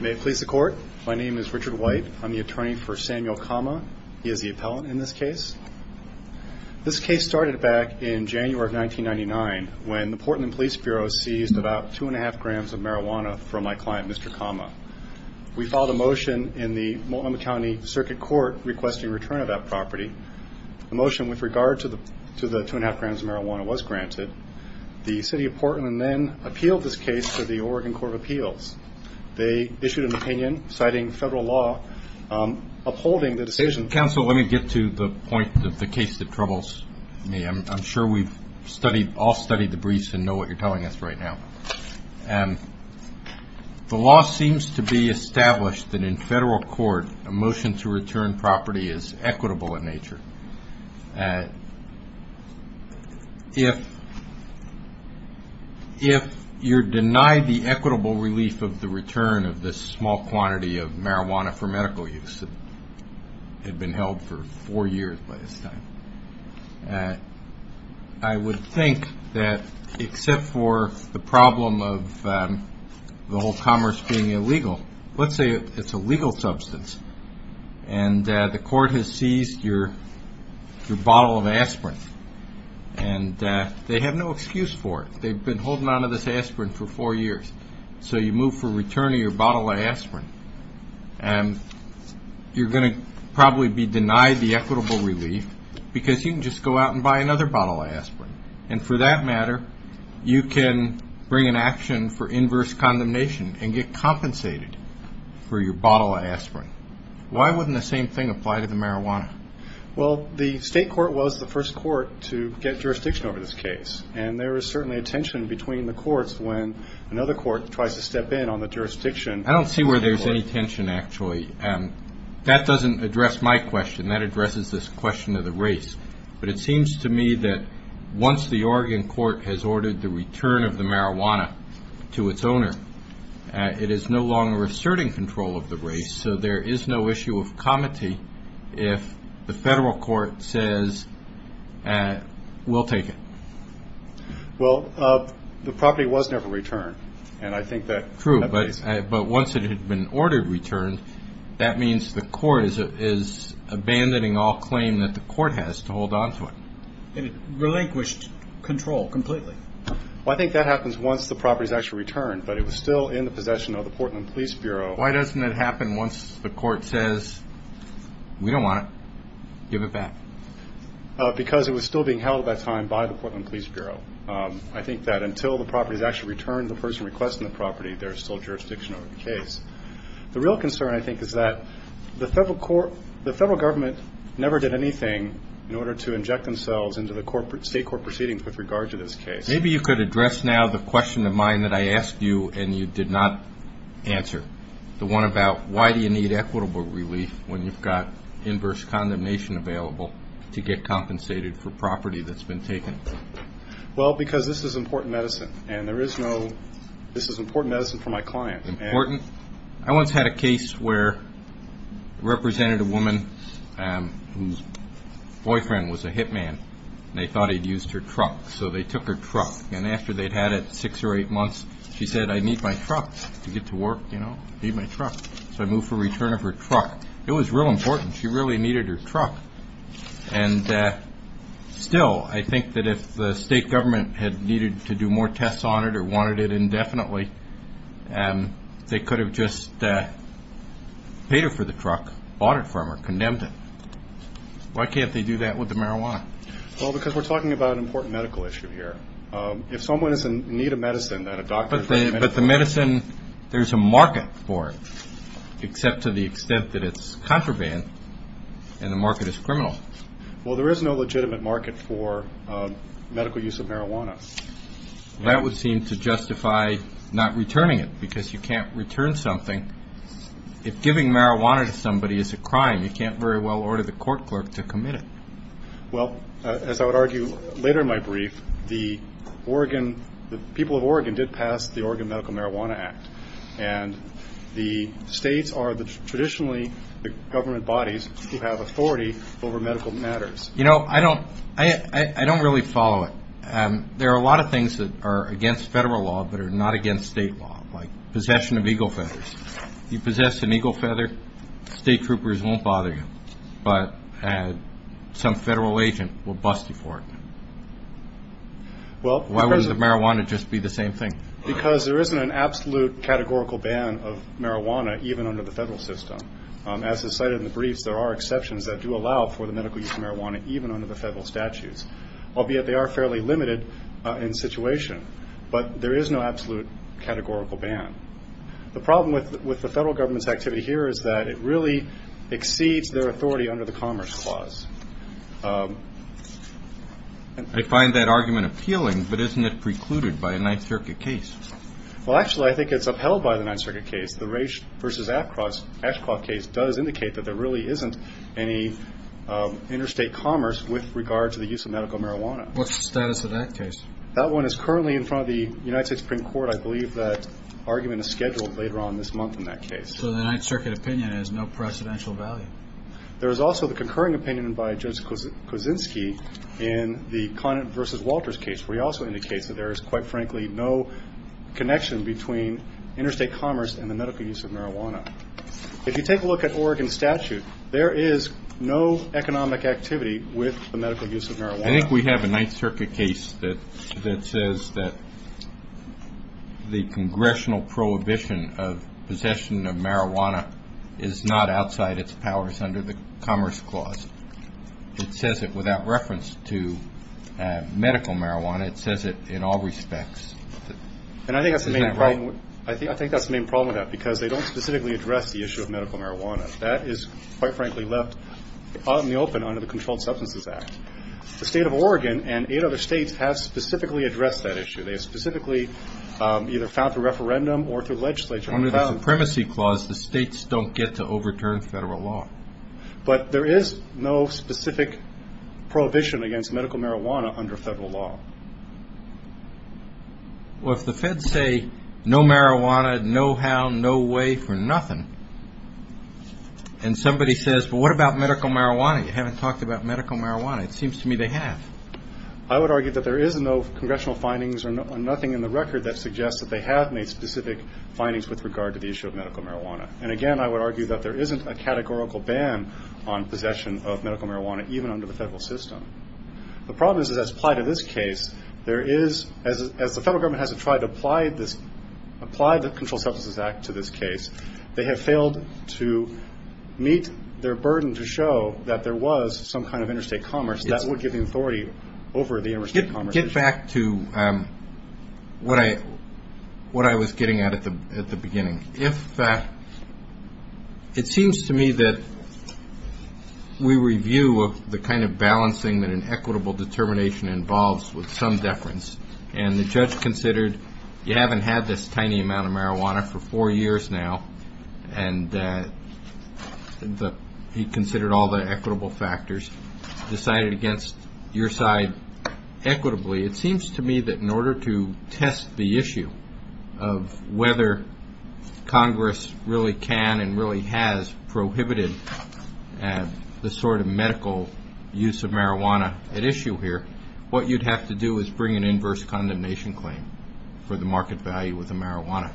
May it please the court. My name is Richard White. I'm the attorney for Samuel Kama. He is the appellant in this case. This case started back in January of 1999 when the Portland Police Bureau seized about two and a half grams of marijuana from my client, Mr. Kama. We filed a motion in the Multnomah County Circuit Court requesting return of that property. The motion with regard to the two and a half grams of marijuana was granted. The City of Portland then appealed this case to the Oregon Court of Appeals. They issued an opinion citing federal law upholding the decision. Counsel, let me get to the point of the case that troubles me. I'm sure we've all studied the briefs and know what you're telling us right now. The law seems to be established that in federal court a motion to return property is equitable in nature. If you're denied the equitable relief of the return of this small quantity of marijuana for medical use that had been held for four years by this time, I would think that except for the problem of the whole commerce being illegal, let's say it's a legal substance and the court has seized your bottle of aspirin and they have no excuse for it. They've been holding on to this aspirin for four years. So you move for return of your bottle of aspirin and you're going to probably be denied the equitable relief because you can just go out and buy another bottle of aspirin. And for that matter, you can bring an action for inverse condemnation and get compensated for your bottle of aspirin. Why wouldn't the same thing apply to the marijuana? Well, the state court was the first court to get jurisdiction over this case. And there is certainly a tension between the courts when another court tries to step in on the jurisdiction. I don't see where there's any tension actually. That doesn't address my question. That addresses this question of the race. But it seems to me that once the Oregon court has ordered the return of the marijuana to its owner, it is no longer asserting control of the race. So there is no issue of comity if the federal court says, we'll take it. Well, the property was never returned. And I think that makes sense. True. But once it had been ordered returned, that means the court is abandoning all claim that the court has to hold on to it. It relinquished control completely. Well, I think that happens once the property is actually returned. But it was still in the possession of the Portland Police Bureau. Why doesn't it happen once the court says, we don't want it, give it back? Because it was still being held at that time by the Portland Police Bureau. I think that until the property is actually returned to the person requesting the property, there is still jurisdiction over the case. The real concern, I think, is that the federal government never did anything in order to inject themselves into the state court proceedings with regard to this case. Maybe you could address now the question of mine that I asked you and you did not answer, the one about why do you need equitable relief when you've got inverse condemnation available to get compensated for property that's been taken? Well, because this is important medicine, and there is no, this is important medicine for my client. Important? I once had a case where I represented a woman whose boyfriend was a hitman, and they thought he'd used her truck. So they took her truck, and after they'd had it six or eight months, she said, I need my truck to get to work, you know, I need my truck. So I moved for return of her truck. It was real important. She really needed her truck. And still, I think that if the state government had needed to do more tests on it or wanted it indefinitely, they could have just paid her for the truck, bought it from her, condemned it. Why can't they do that with the marijuana? Well, because we're talking about an important medical issue here. If someone is in need of medicine, then a doctor. But the medicine, there's a market for it, except to the extent that it's contraband, and the market is criminal. Well, there is no legitimate market for medical use of marijuana. That would seem to justify not returning it, because you can't return something. If giving marijuana to somebody is a crime, you can't very well order the court clerk to commit it. Well, as I would argue later in my brief, the people of Oregon did pass the Oregon Medical Marijuana Act, and the states are traditionally the government bodies who have authority over medical matters. You know, I don't really follow it. There are a lot of things that are against federal law but are not against state law, like possession of eagle feathers. You possess an eagle feather, state troopers won't bother you. But some federal agent will bust you for it. Why wouldn't the marijuana just be the same thing? Because there isn't an absolute categorical ban of marijuana, even under the federal system. As is cited in the briefs, there are exceptions that do allow for the medical use of marijuana, even under the federal statutes, albeit they are fairly limited in situation. But there is no absolute categorical ban. The problem with the federal government's activity here is that it really exceeds their authority under the Commerce Clause. I find that argument appealing, but isn't it precluded by a Ninth Circuit case? Well, actually, I think it's upheld by the Ninth Circuit case. The Raich v. Ashcroft case does indicate that there really isn't any interstate commerce with regard to the use of medical marijuana. What's the status of that case? That one is currently in front of the United States Supreme Court. I believe that argument is scheduled later on this month in that case. So the Ninth Circuit opinion has no precedential value. There is also the concurring opinion by Judge Kuczynski in the Conant v. Walters case, where he also indicates that there is, quite frankly, no connection between interstate commerce and the medical use of marijuana. If you take a look at Oregon's statute, there is no economic activity with the medical use of marijuana. I think we have a Ninth Circuit case that says that the congressional prohibition of possession of marijuana is not outside its powers under the Commerce Clause. It says it without reference to medical marijuana. It says it in all respects. Isn't that right? I think that's the main problem with that because they don't specifically address the issue of medical marijuana. That is, quite frankly, left out in the open under the Controlled Substances Act. The State of Oregon and eight other states have specifically addressed that issue. They have specifically either found through referendum or through legislature. Under the Supremacy Clause, the states don't get to overturn federal law. But there is no specific prohibition against medical marijuana under federal law. Well, if the feds say, no marijuana, no how, no way, for nothing, and somebody says, well, what about medical marijuana? You haven't talked about medical marijuana. It seems to me they have. I would argue that there is no congressional findings or nothing in the record that suggests that they have made specific findings with regard to the issue of medical marijuana. And, again, I would argue that there isn't a categorical ban on possession of medical marijuana, even under the federal system. The problem is that as applied to this case, as the federal government has tried to apply the Controlled Substances Act to this case, they have failed to meet their burden to show that there was some kind of interstate commerce that would give them authority over the interstate commerce issue. Back to what I was getting at at the beginning. It seems to me that we review the kind of balancing that an equitable determination involves with some deference. And the judge considered you haven't had this tiny amount of marijuana for four years now, and he considered all the equitable factors, decided against your side equitably. It seems to me that in order to test the issue of whether Congress really can and really has prohibited the sort of medical use of marijuana at issue here, what you'd have to do is bring an inverse condemnation claim for the market value of the marijuana.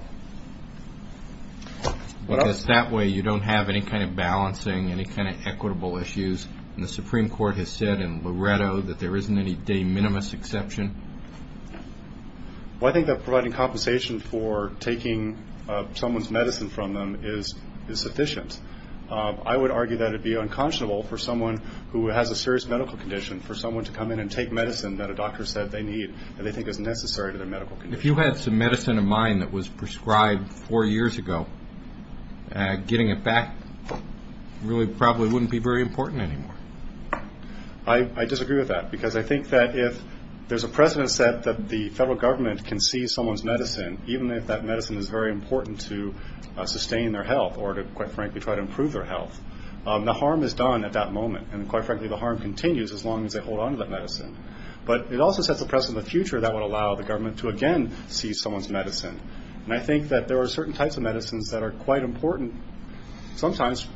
Because that way you don't have any kind of balancing, any kind of equitable issues. And the Supreme Court has said in Loretto that there isn't any de minimis exception. Well, I think that providing compensation for taking someone's medicine from them is sufficient. I would argue that it would be unconscionable for someone who has a serious medical condition, for someone to come in and take medicine that a doctor said they need, that they think is necessary to their medical condition. If you had some medicine of mine that was prescribed four years ago, getting it back really probably wouldn't be very important anymore. I disagree with that. Because I think that if there's a precedent set that the federal government can seize someone's medicine, even if that medicine is very important to sustain their health or to, quite frankly, try to improve their health, the harm is done at that moment. And, quite frankly, the harm continues as long as they hold on to that medicine. But it also sets a precedent in the future that would allow the government to again seize someone's medicine. And I think that there are certain types of medicines that are quite important sometimes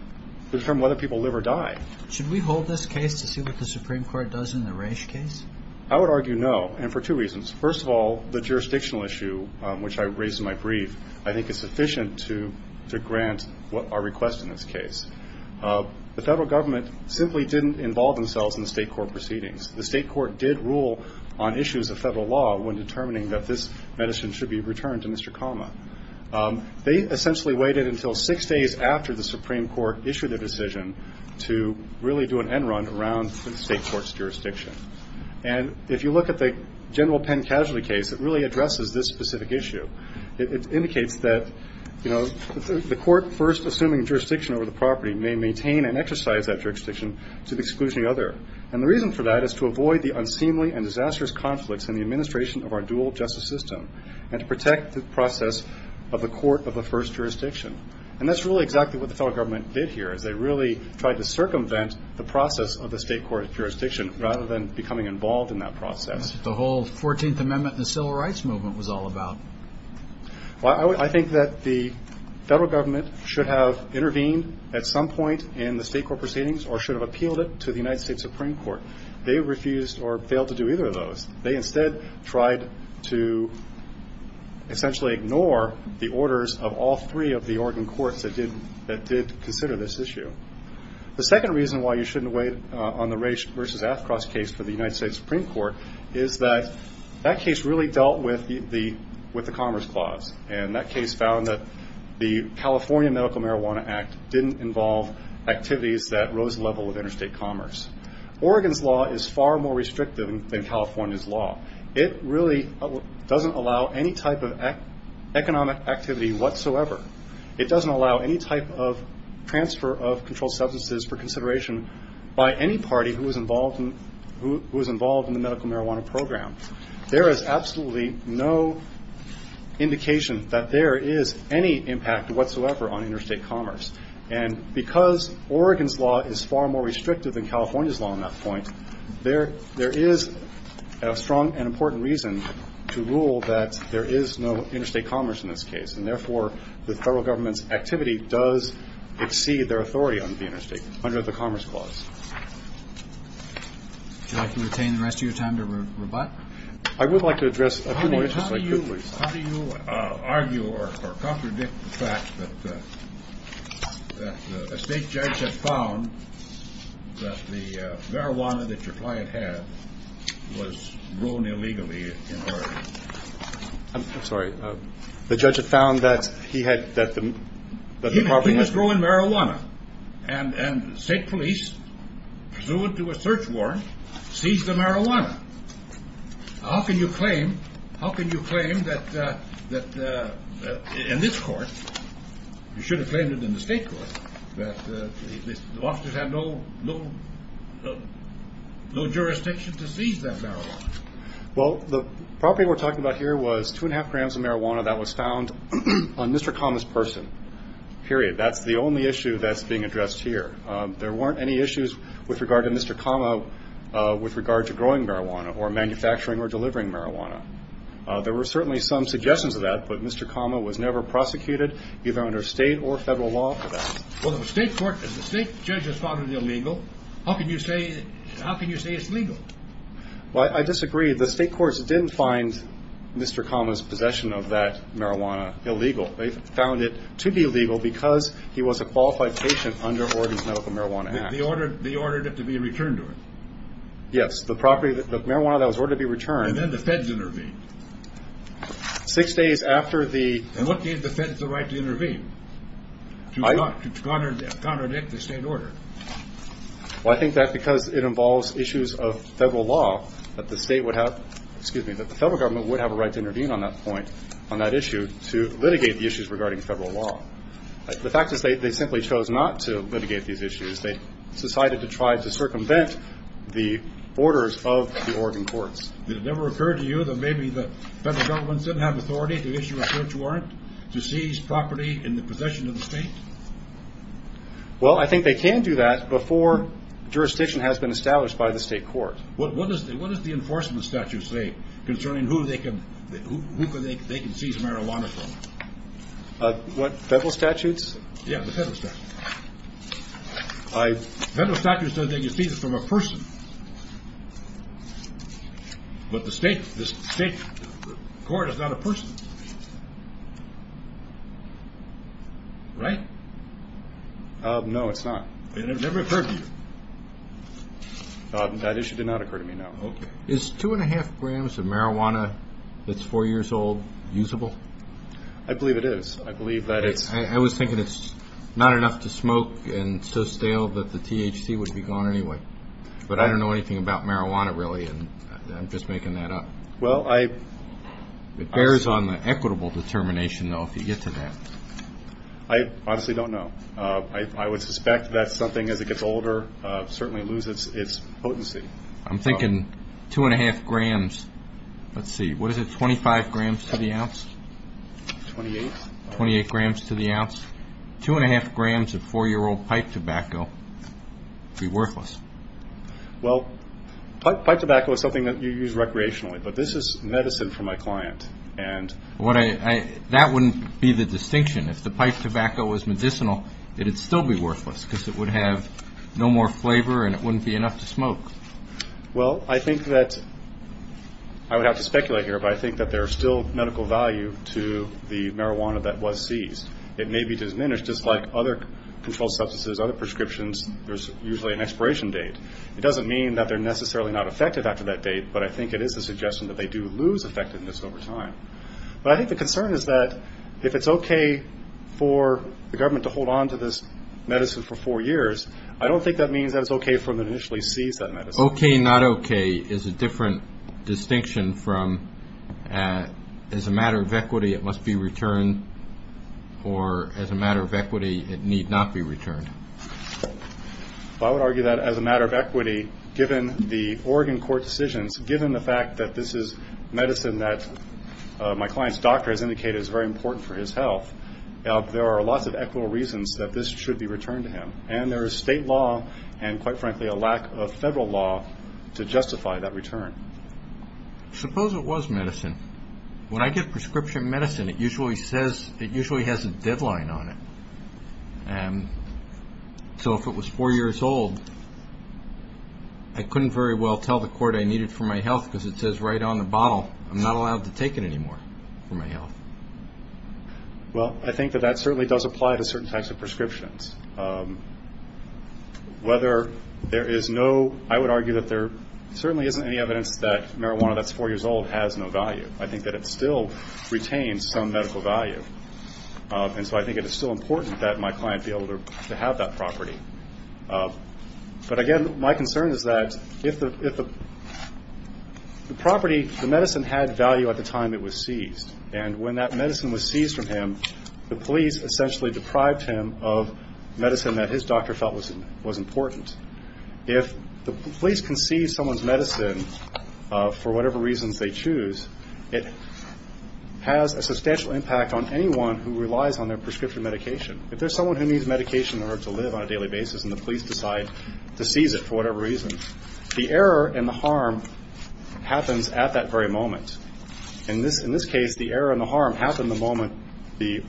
to determine whether people live or die. Should we hold this case to see what the Supreme Court does in the Raich case? I would argue no, and for two reasons. First of all, the jurisdictional issue, which I raised in my brief, I think is sufficient to grant our request in this case. The federal government simply didn't involve themselves in the state court proceedings. The state court did rule on issues of federal law when determining that this medicine should be returned to Mr. Kama. They essentially waited until six days after the Supreme Court issued their decision to really do an end run around the state court's jurisdiction. And if you look at the general Penn casualty case, it really addresses this specific issue. It indicates that, you know, the court first assuming jurisdiction over the property may maintain and exercise that jurisdiction to the exclusion of the other. And the reason for that is to avoid the unseemly and disastrous conflicts in the administration of our dual justice system and to protect the process of the court of the first jurisdiction. And that's really exactly what the federal government did here, is they really tried to circumvent the process of the state court jurisdiction rather than becoming involved in that process. That's what the whole 14th Amendment and the Civil Rights Movement was all about. Well, I think that the federal government should have intervened at some point in the state court proceedings or should have appealed it to the United States Supreme Court. They refused or failed to do either of those. They instead tried to essentially ignore the orders of all three of the Oregon courts that did consider this issue. The second reason why you shouldn't wait on the Ray versus Athcross case for the United States Supreme Court is that that case really dealt with the Commerce Clause. And that case found that the California Medical Marijuana Act didn't involve activities that rose the level of interstate commerce. Oregon's law is far more restrictive than California's law. It really doesn't allow any type of economic activity whatsoever. It doesn't allow any type of transfer of controlled substances for consideration by any party who is involved in the medical marijuana program. There is absolutely no indication that there is any impact whatsoever on interstate commerce. And because Oregon's law is far more restrictive than California's law on that point, there is a strong and important reason to rule that there is no interstate commerce in this case. And therefore, the federal government's activity does exceed their authority on the interstate under the Commerce Clause. Would you like to retain the rest of your time to rebut? I would like to address a few more issues. How do you argue or contradict the fact that a state judge has found that the marijuana that your client had was grown illegally in Oregon? I'm sorry. The judge had found that he had that the property was growing marijuana and state police, due to a search warrant, seized the marijuana. How can you claim how can you claim that in this court, you should have claimed it in the state court, that the officers had no jurisdiction to seize that marijuana? Well, the property we're talking about here was two and a half grams of marijuana that was found on Mr. Kama's person. Period. That's the only issue that's being addressed here. There weren't any issues with regard to Mr. Kama with regard to growing marijuana or manufacturing or delivering marijuana. There were certainly some suggestions of that, but Mr. Kama was never prosecuted, either under state or federal law, for that. Well, the state court, if the state judge has found it illegal, how can you say it's legal? Well, I disagree. The state courts didn't find Mr. Kama's possession of that marijuana illegal. They found it to be illegal because he was a qualified patient under Oregon's Medical Marijuana Act. They ordered it to be returned to him? Yes, the property, the marijuana that was ordered to be returned. And then the feds intervened? Six days after the And what gave the feds the right to intervene, to contradict the state order? Well, I think that because it involves issues of federal law, that the state would have excuse me, that the federal government would have a right to intervene on that point, on that issue, to litigate the issues regarding federal law. The fact is they simply chose not to litigate these issues. They decided to try to circumvent the orders of the Oregon courts. Did it ever occur to you that maybe the federal government didn't have authority to issue a search warrant to seize property in the possession of the state? Well, I think they can do that before jurisdiction has been established by the state court. What does the enforcement statute say concerning who they can seize marijuana from? Federal statutes? Yes, the federal statutes. Federal statutes say they can seize it from a person. But the state court is not a person. Right? No, it's not. It never occurred to you? That issue did not occur to me, no. Is two and a half grams of marijuana that's four years old usable? I believe it is. I believe that it's I was thinking it's not enough to smoke and so stale that the THC would be gone anyway. But I don't know anything about marijuana, really, and I'm just making that up. It bears on the equitable determination, though, if you get to that. I honestly don't know. I would suspect that something, as it gets older, certainly loses its potency. I'm thinking two and a half grams. Let's see, what is it, 25 grams to the ounce? Twenty-eight. Twenty-eight grams to the ounce. Two and a half grams of four-year-old pipe tobacco would be worthless. Well, pipe tobacco is something that you use recreationally, but this is medicine for my client. That wouldn't be the distinction. If the pipe tobacco was medicinal, it would still be worthless because it would have no more flavor and it wouldn't be enough to smoke. Well, I think that I would have to speculate here, but I think that there is still medical value to the marijuana that was seized. It may be diminished, just like other controlled substances, other prescriptions. There's usually an expiration date. It doesn't mean that they're necessarily not effective after that date, but I think it is a suggestion that they do lose effectiveness over time. But I think the concern is that if it's okay for the government to hold on to this medicine for four years, I don't think that means that it's okay for them to initially seize that medicine. Okay, not okay is a different distinction from as a matter of equity it must be returned or as a matter of equity it need not be returned. Well, I would argue that as a matter of equity, given the Oregon court decisions, given the fact that this is medicine that my client's doctor has indicated is very important for his health, there are lots of equitable reasons that this should be returned to him. And there is state law and, quite frankly, a lack of federal law to justify that return. Suppose it was medicine. When I give prescription medicine, it usually has a deadline on it. And so if it was four years old, I couldn't very well tell the court I need it for my health because it says right on the bottle, I'm not allowed to take it anymore for my health. Well, I think that that certainly does apply to certain types of prescriptions. Whether there is no, I would argue that there certainly isn't any evidence that marijuana that's four years old has no value. I think that it still retains some medical value. And so I think it is still important that my client be able to have that property. But, again, my concern is that if the property, the medicine had value at the time it was seized. And when that medicine was seized from him, the police essentially deprived him of medicine that his doctor felt was important. If the police can seize someone's medicine for whatever reasons they choose, it has a substantial impact on anyone who relies on their prescription medication. If there's someone who needs medication in order to live on a daily basis and the police decide to seize it for whatever reason, the error and the harm happens at that very moment. In this case, the error and the harm happened the moment the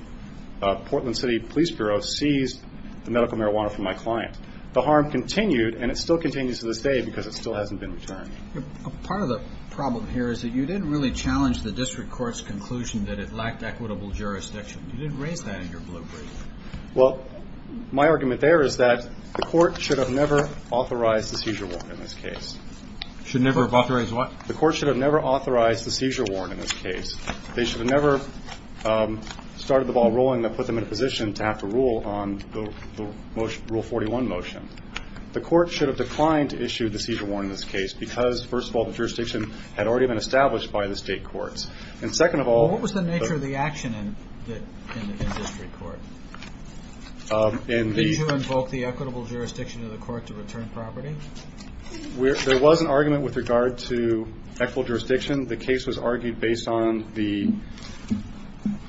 Portland City Police Bureau seized the medical marijuana from my client. The harm continued and it still continues to this day because it still hasn't been returned. Part of the problem here is that you didn't really challenge the district court's conclusion that it lacked equitable jurisdiction. You didn't raise that in your blueprint. Well, my argument there is that the court should have never authorized the seizure warrant in this case. Should never have authorized what? The court should have never authorized the seizure warrant in this case. They should have never started the ball rolling that put them in a position to have to rule on the Rule 41 motion. The court should have declined to issue the seizure warrant in this case because, first of all, the jurisdiction had already been established by the state courts. And second of all- What was the nature of the action in the district court? In the- Did you invoke the equitable jurisdiction of the court to return property? There was an argument with regard to equitable jurisdiction. The case was argued based on the- I'm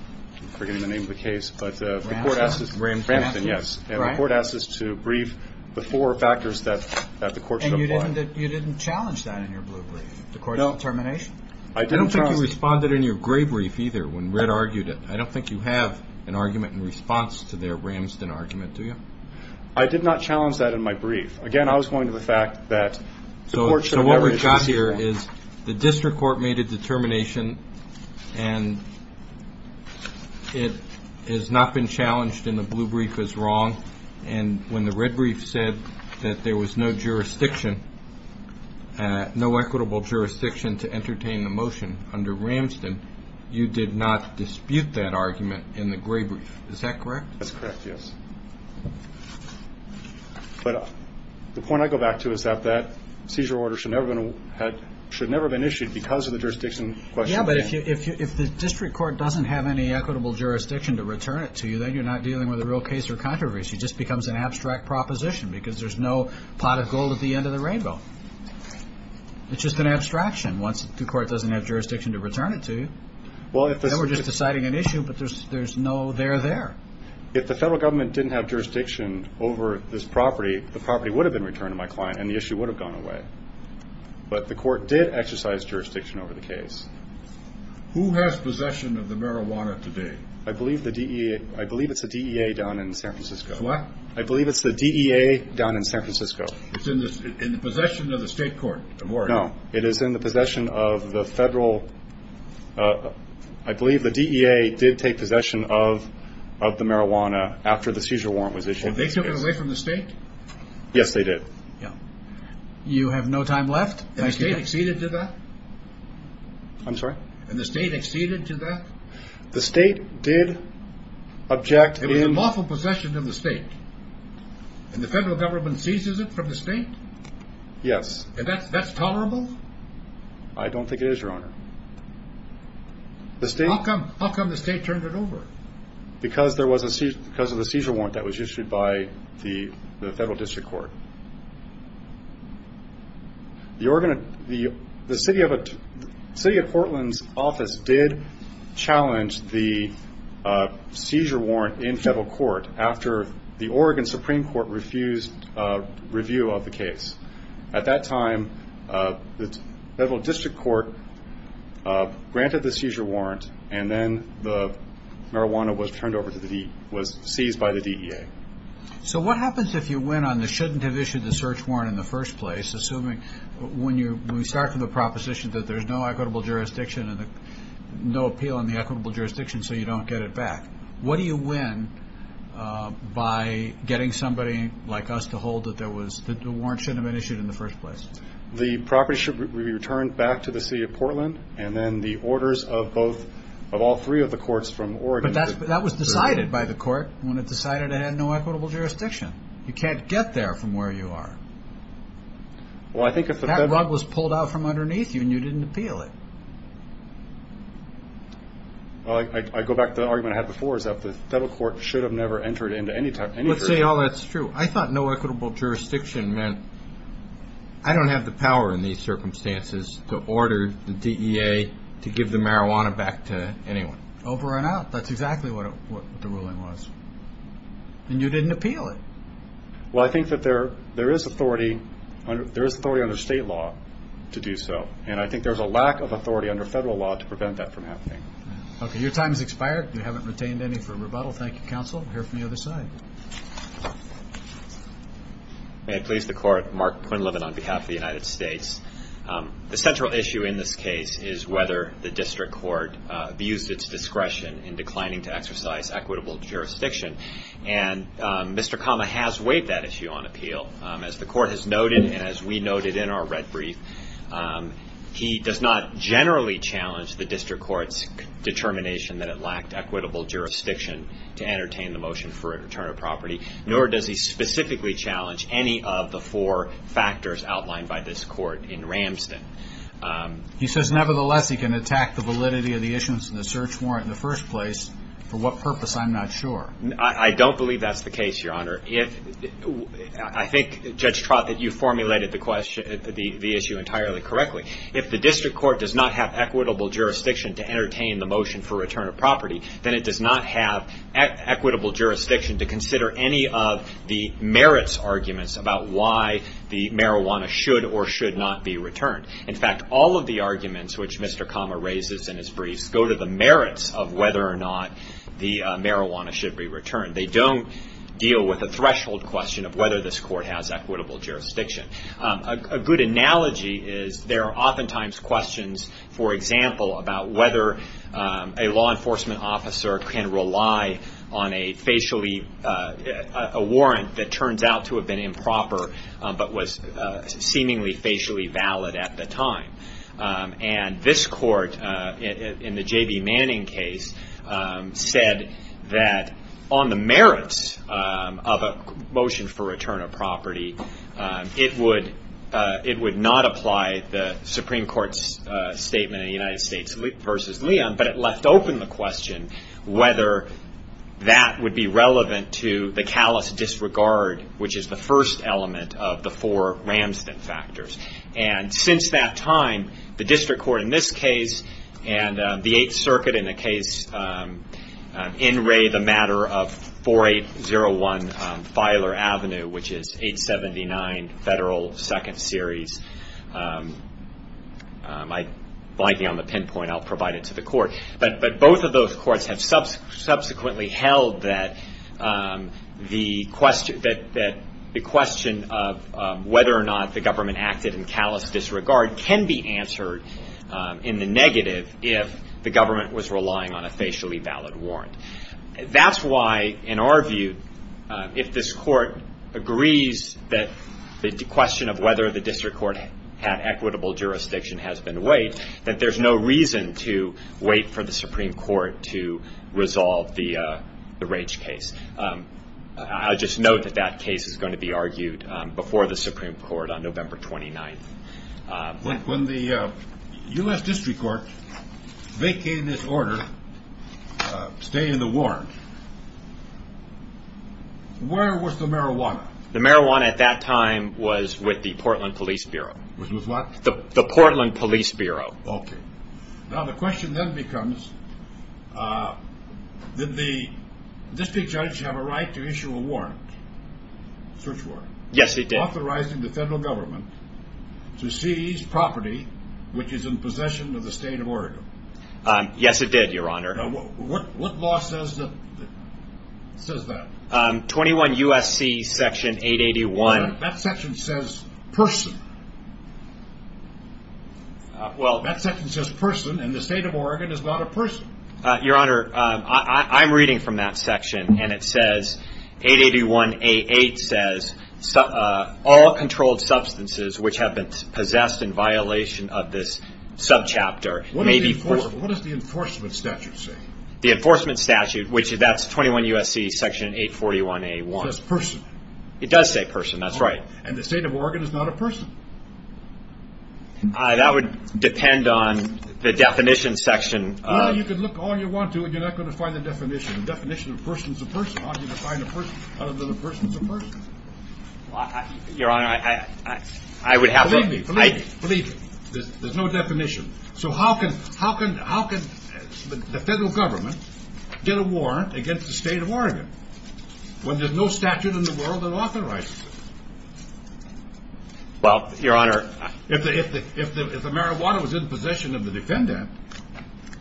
forgetting the name of the case, but the court asked us- Ramston. Ramston, yes. And the court asked us to brief the four factors that the court should apply. And you didn't challenge that in your blue brief, the court's determination? I didn't challenge- I don't think you responded in your gray brief either when Red argued it. I don't think you have an argument in response to their Ramston argument, do you? I did not challenge that in my brief. Again, I was going to the fact that the court should have- So what we've got here is the district court made a determination and it has not been challenged in the blue brief as wrong. And when the Red brief said that there was no jurisdiction, no equitable jurisdiction to entertain the motion under Ramston, you did not dispute that argument in the gray brief. Is that correct? That's correct, yes. But the point I go back to is that that seizure order should never have been issued because of the jurisdiction question. Yeah, but if the district court doesn't have any equitable jurisdiction to return it to you, then you're not dealing with a real case or controversy. It just becomes an abstract proposition because there's no pot of gold at the end of the rainbow. It's just an abstraction once the court doesn't have jurisdiction to return it to you. Then we're just deciding an issue, but there's no there there. If the federal government didn't have jurisdiction over this property, the property would have been returned to my client and the issue would have gone away. But the court did exercise jurisdiction over the case. Who has possession of the marijuana today? I believe it's the DEA down in San Francisco. What? I believe it's the DEA down in San Francisco. It's in the possession of the state court? No, it is in the possession of the federal- I believe the DEA did take possession of the marijuana after the seizure warrant was issued. They took it away from the state? Yes, they did. You have no time left? And the state acceded to that? I'm sorry? And the state acceded to that? The state did object in- It was in lawful possession of the state. And the federal government seizes it from the state? Yes. And that's tolerable? I don't think it is, Your Honor. How come the state turned it over? Because of the seizure warrant that was issued by the federal district court. The city of Portland's office did challenge the seizure warrant in federal court after the Oregon Supreme Court refused review of the case. At that time, the federal district court granted the seizure warrant, and then the marijuana was turned over to the DEA, was seized by the DEA. So what happens if you win on the shouldn't have issued the search warrant in the first place, assuming when we start from the proposition that there's no equitable jurisdiction and no appeal in the equitable jurisdiction, so you don't get it back? What do you win by getting somebody like us to hold that the warrant shouldn't have been issued in the first place? The property should be returned back to the city of Portland, and then the orders of all three of the courts from Oregon- But that was decided by the court when it decided it had no equitable jurisdiction. You can't get there from where you are. That rug was pulled out from underneath you, and you didn't appeal it. I go back to the argument I had before, is that the federal court should have never entered into any jurisdiction. Let's say all that's true. I thought no equitable jurisdiction meant I don't have the power in these circumstances to order the DEA to give the marijuana back to anyone. Over and out. That's exactly what the ruling was. And you didn't appeal it. Well, I think that there is authority under state law to do so, and I think there's a lack of authority under federal law to prevent that from happening. Okay, your time has expired. You haven't retained any for rebuttal. Thank you, counsel. We'll hear from the other side. May it please the court, Mark Quinlivan on behalf of the United States. The central issue in this case is whether the district court views its discretion in declining to exercise equitable jurisdiction, and Mr. Kama has weighed that issue on appeal. As the court has noted, and as we noted in our red brief, he does not generally challenge the district court's determination that it lacked equitable jurisdiction to entertain the motion for a return of property, nor does he specifically challenge any of the four factors outlined by this court in Ramston. He says, nevertheless, he can attack the validity of the issuance of the search warrant in the first place. For what purpose, I'm not sure. I don't believe that's the case, your honor. I think, Judge Trott, that you formulated the issue entirely correctly. If the district court does not have equitable jurisdiction to entertain the motion for return of property, then it does not have equitable jurisdiction to consider any of the merits arguments about why the marijuana should or should not be returned. In fact, all of the arguments, which Mr. Kama raises in his briefs, go to the merits of whether or not the marijuana should be returned. They don't deal with the threshold question of whether this court has equitable jurisdiction. A good analogy is there are oftentimes questions, for example, about whether a law enforcement officer can rely on a warrant that turns out to have been improper but was seemingly facially valid at the time. This court, in the J.B. Manning case, said that on the merits of a motion for return of property, it would not apply the Supreme Court's statement in the United States v. Leon, but it left open the question whether that would be relevant to the callous disregard, which is the first element of the four Ramston factors. Since that time, the district court in this case and the Eighth Circuit in the case in Ray, the matter of 4801 Filer Avenue, which is 879 Federal 2nd Series, I'm blanking on the pinpoint. But both of those courts have subsequently held that the question of whether or not the government acted in callous disregard can be answered in the negative if the government was relying on a facially valid warrant. That's why, in our view, if this court agrees that the question of whether the district court had equitable jurisdiction has been weighed, that there's no reason to wait for the Supreme Court to resolve the Rage case. I'll just note that that case is going to be argued before the Supreme Court on November 29th. When the U.S. district court vacated this order, staying in the warrant, where was the marijuana? The marijuana at that time was with the Portland Police Bureau. Was with what? The Portland Police Bureau. Okay. Now the question then becomes, did the district judge have a right to issue a warrant, search warrant? Yes, he did. Authorizing the federal government to seize property which is in possession of the state of Oregon. Yes, it did, Your Honor. What law says that? 21 U.S.C. Section 881. That section says person. That section says person, and the state of Oregon is not a person. Your Honor, I'm reading from that section, and it says, 881A.8 says, all controlled substances which have been possessed in violation of this subchapter may be forced. What does the enforcement statute say? The enforcement statute, that's 21 U.S.C. Section 841A.1. It says person. It does say person, that's right. And the state of Oregon is not a person. That would depend on the definition section. Well, you can look all you want to, and you're not going to find the definition. The definition of a person is a person. How do you define a person other than a person is a person? Your Honor, I would have to Believe me, believe me, there's no definition. So how can the federal government get a warrant against the state of Oregon when there's no statute in the world that authorizes it? Well, Your Honor, If the marijuana was in possession of the defendant,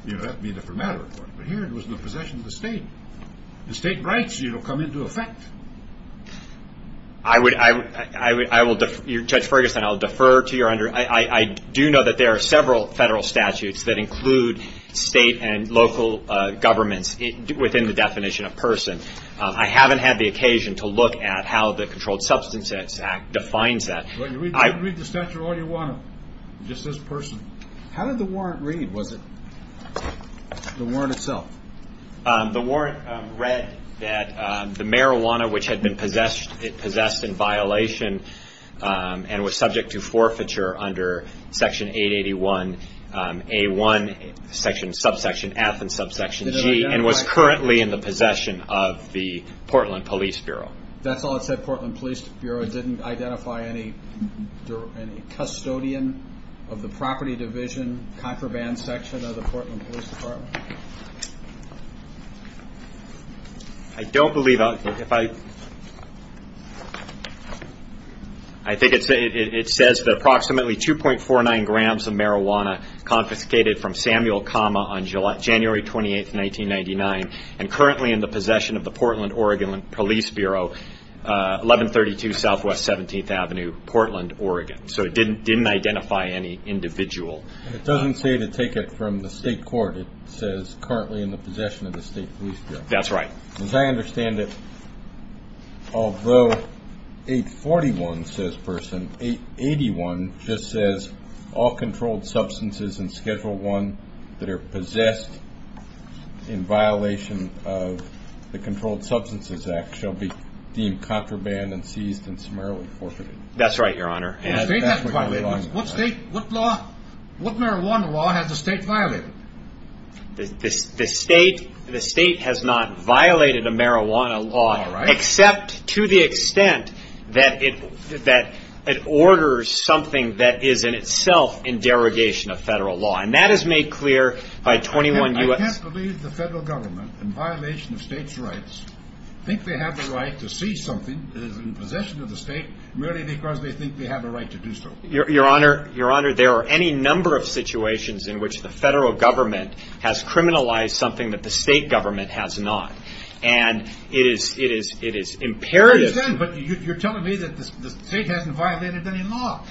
that would be a different matter. But here it was in the possession of the state. The state rights come into effect. Judge Ferguson, I'll defer to you. I do know that there are several federal statutes that include state and local governments within the definition of person. I haven't had the occasion to look at how the Controlled Substances Act defines that. Read the statute all you want to. It just says person. How did the warrant read? Was it the warrant itself? The warrant read that the marijuana which had been possessed, it possessed in violation and was subject to forfeiture under Section 881A1, Section, Subsection F and Subsection G, and was currently in the possession of the Portland Police Bureau. That's all it said, Portland Police Bureau? It didn't identify any custodian of the property division, contraband section of the Portland Police Department? I don't believe, if I, I think it says that approximately 2.49 grams of marijuana confiscated from Samuel Kama on January 28, 1999, and currently in the possession of the Portland Oregon Police Bureau, 1132 Southwest 17th Avenue, Portland, Oregon. So it didn't identify any individual. It doesn't say to take it from the state court. It says currently in the possession of the state police bureau. That's right. As I understand it, although 841 says person, 881 just says all controlled substances in Schedule I that are possessed in violation of the Controlled Substances Act shall be deemed contraband and seized and summarily forfeited. That's right, Your Honor. What state, what law, what marijuana law has the state violated? The state has not violated a marijuana law, except to the extent that it orders something that is in itself in derogation of federal law. And that is made clear by 21 U.S. I can't believe the federal government, in violation of states' rights, think they have the right to seize something that is in possession of the state merely because they think they have a right to do so. Your Honor, there are any number of situations in which the federal government has criminalized something that the state government has not. And it is imperative. I understand, but you're telling me that the state hasn't violated any law.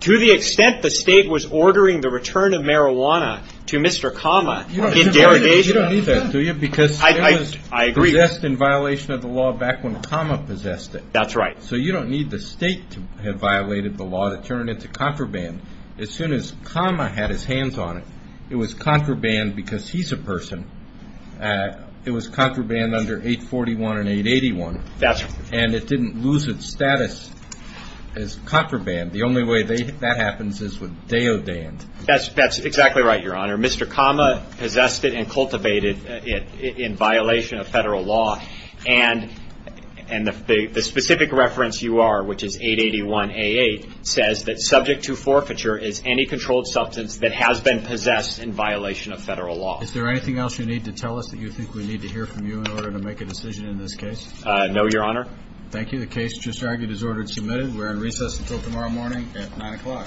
To the extent the state was ordering the return of marijuana to Mr. Kama in derogation. You don't need that, do you? Because it was possessed in violation of the law back when Kama possessed it. That's right. So you don't need the state to have violated the law to turn it into contraband. As soon as Kama had his hands on it, it was contraband because he's a person. It was contraband under 841 and 881. That's right. And it didn't lose its status as contraband. The only way that happens is with deodand. That's exactly right, Your Honor. Mr. Kama possessed it and cultivated it in violation of federal law. And the specific reference you are, which is 881A8, says that subject to forfeiture is any controlled substance that has been possessed in violation of federal law. Is there anything else you need to tell us that you think we need to hear from you in order to make a decision in this case? No, Your Honor. Thank you. The case just argued is ordered and submitted. We're in recess until tomorrow morning at 9 o'clock. Thank you.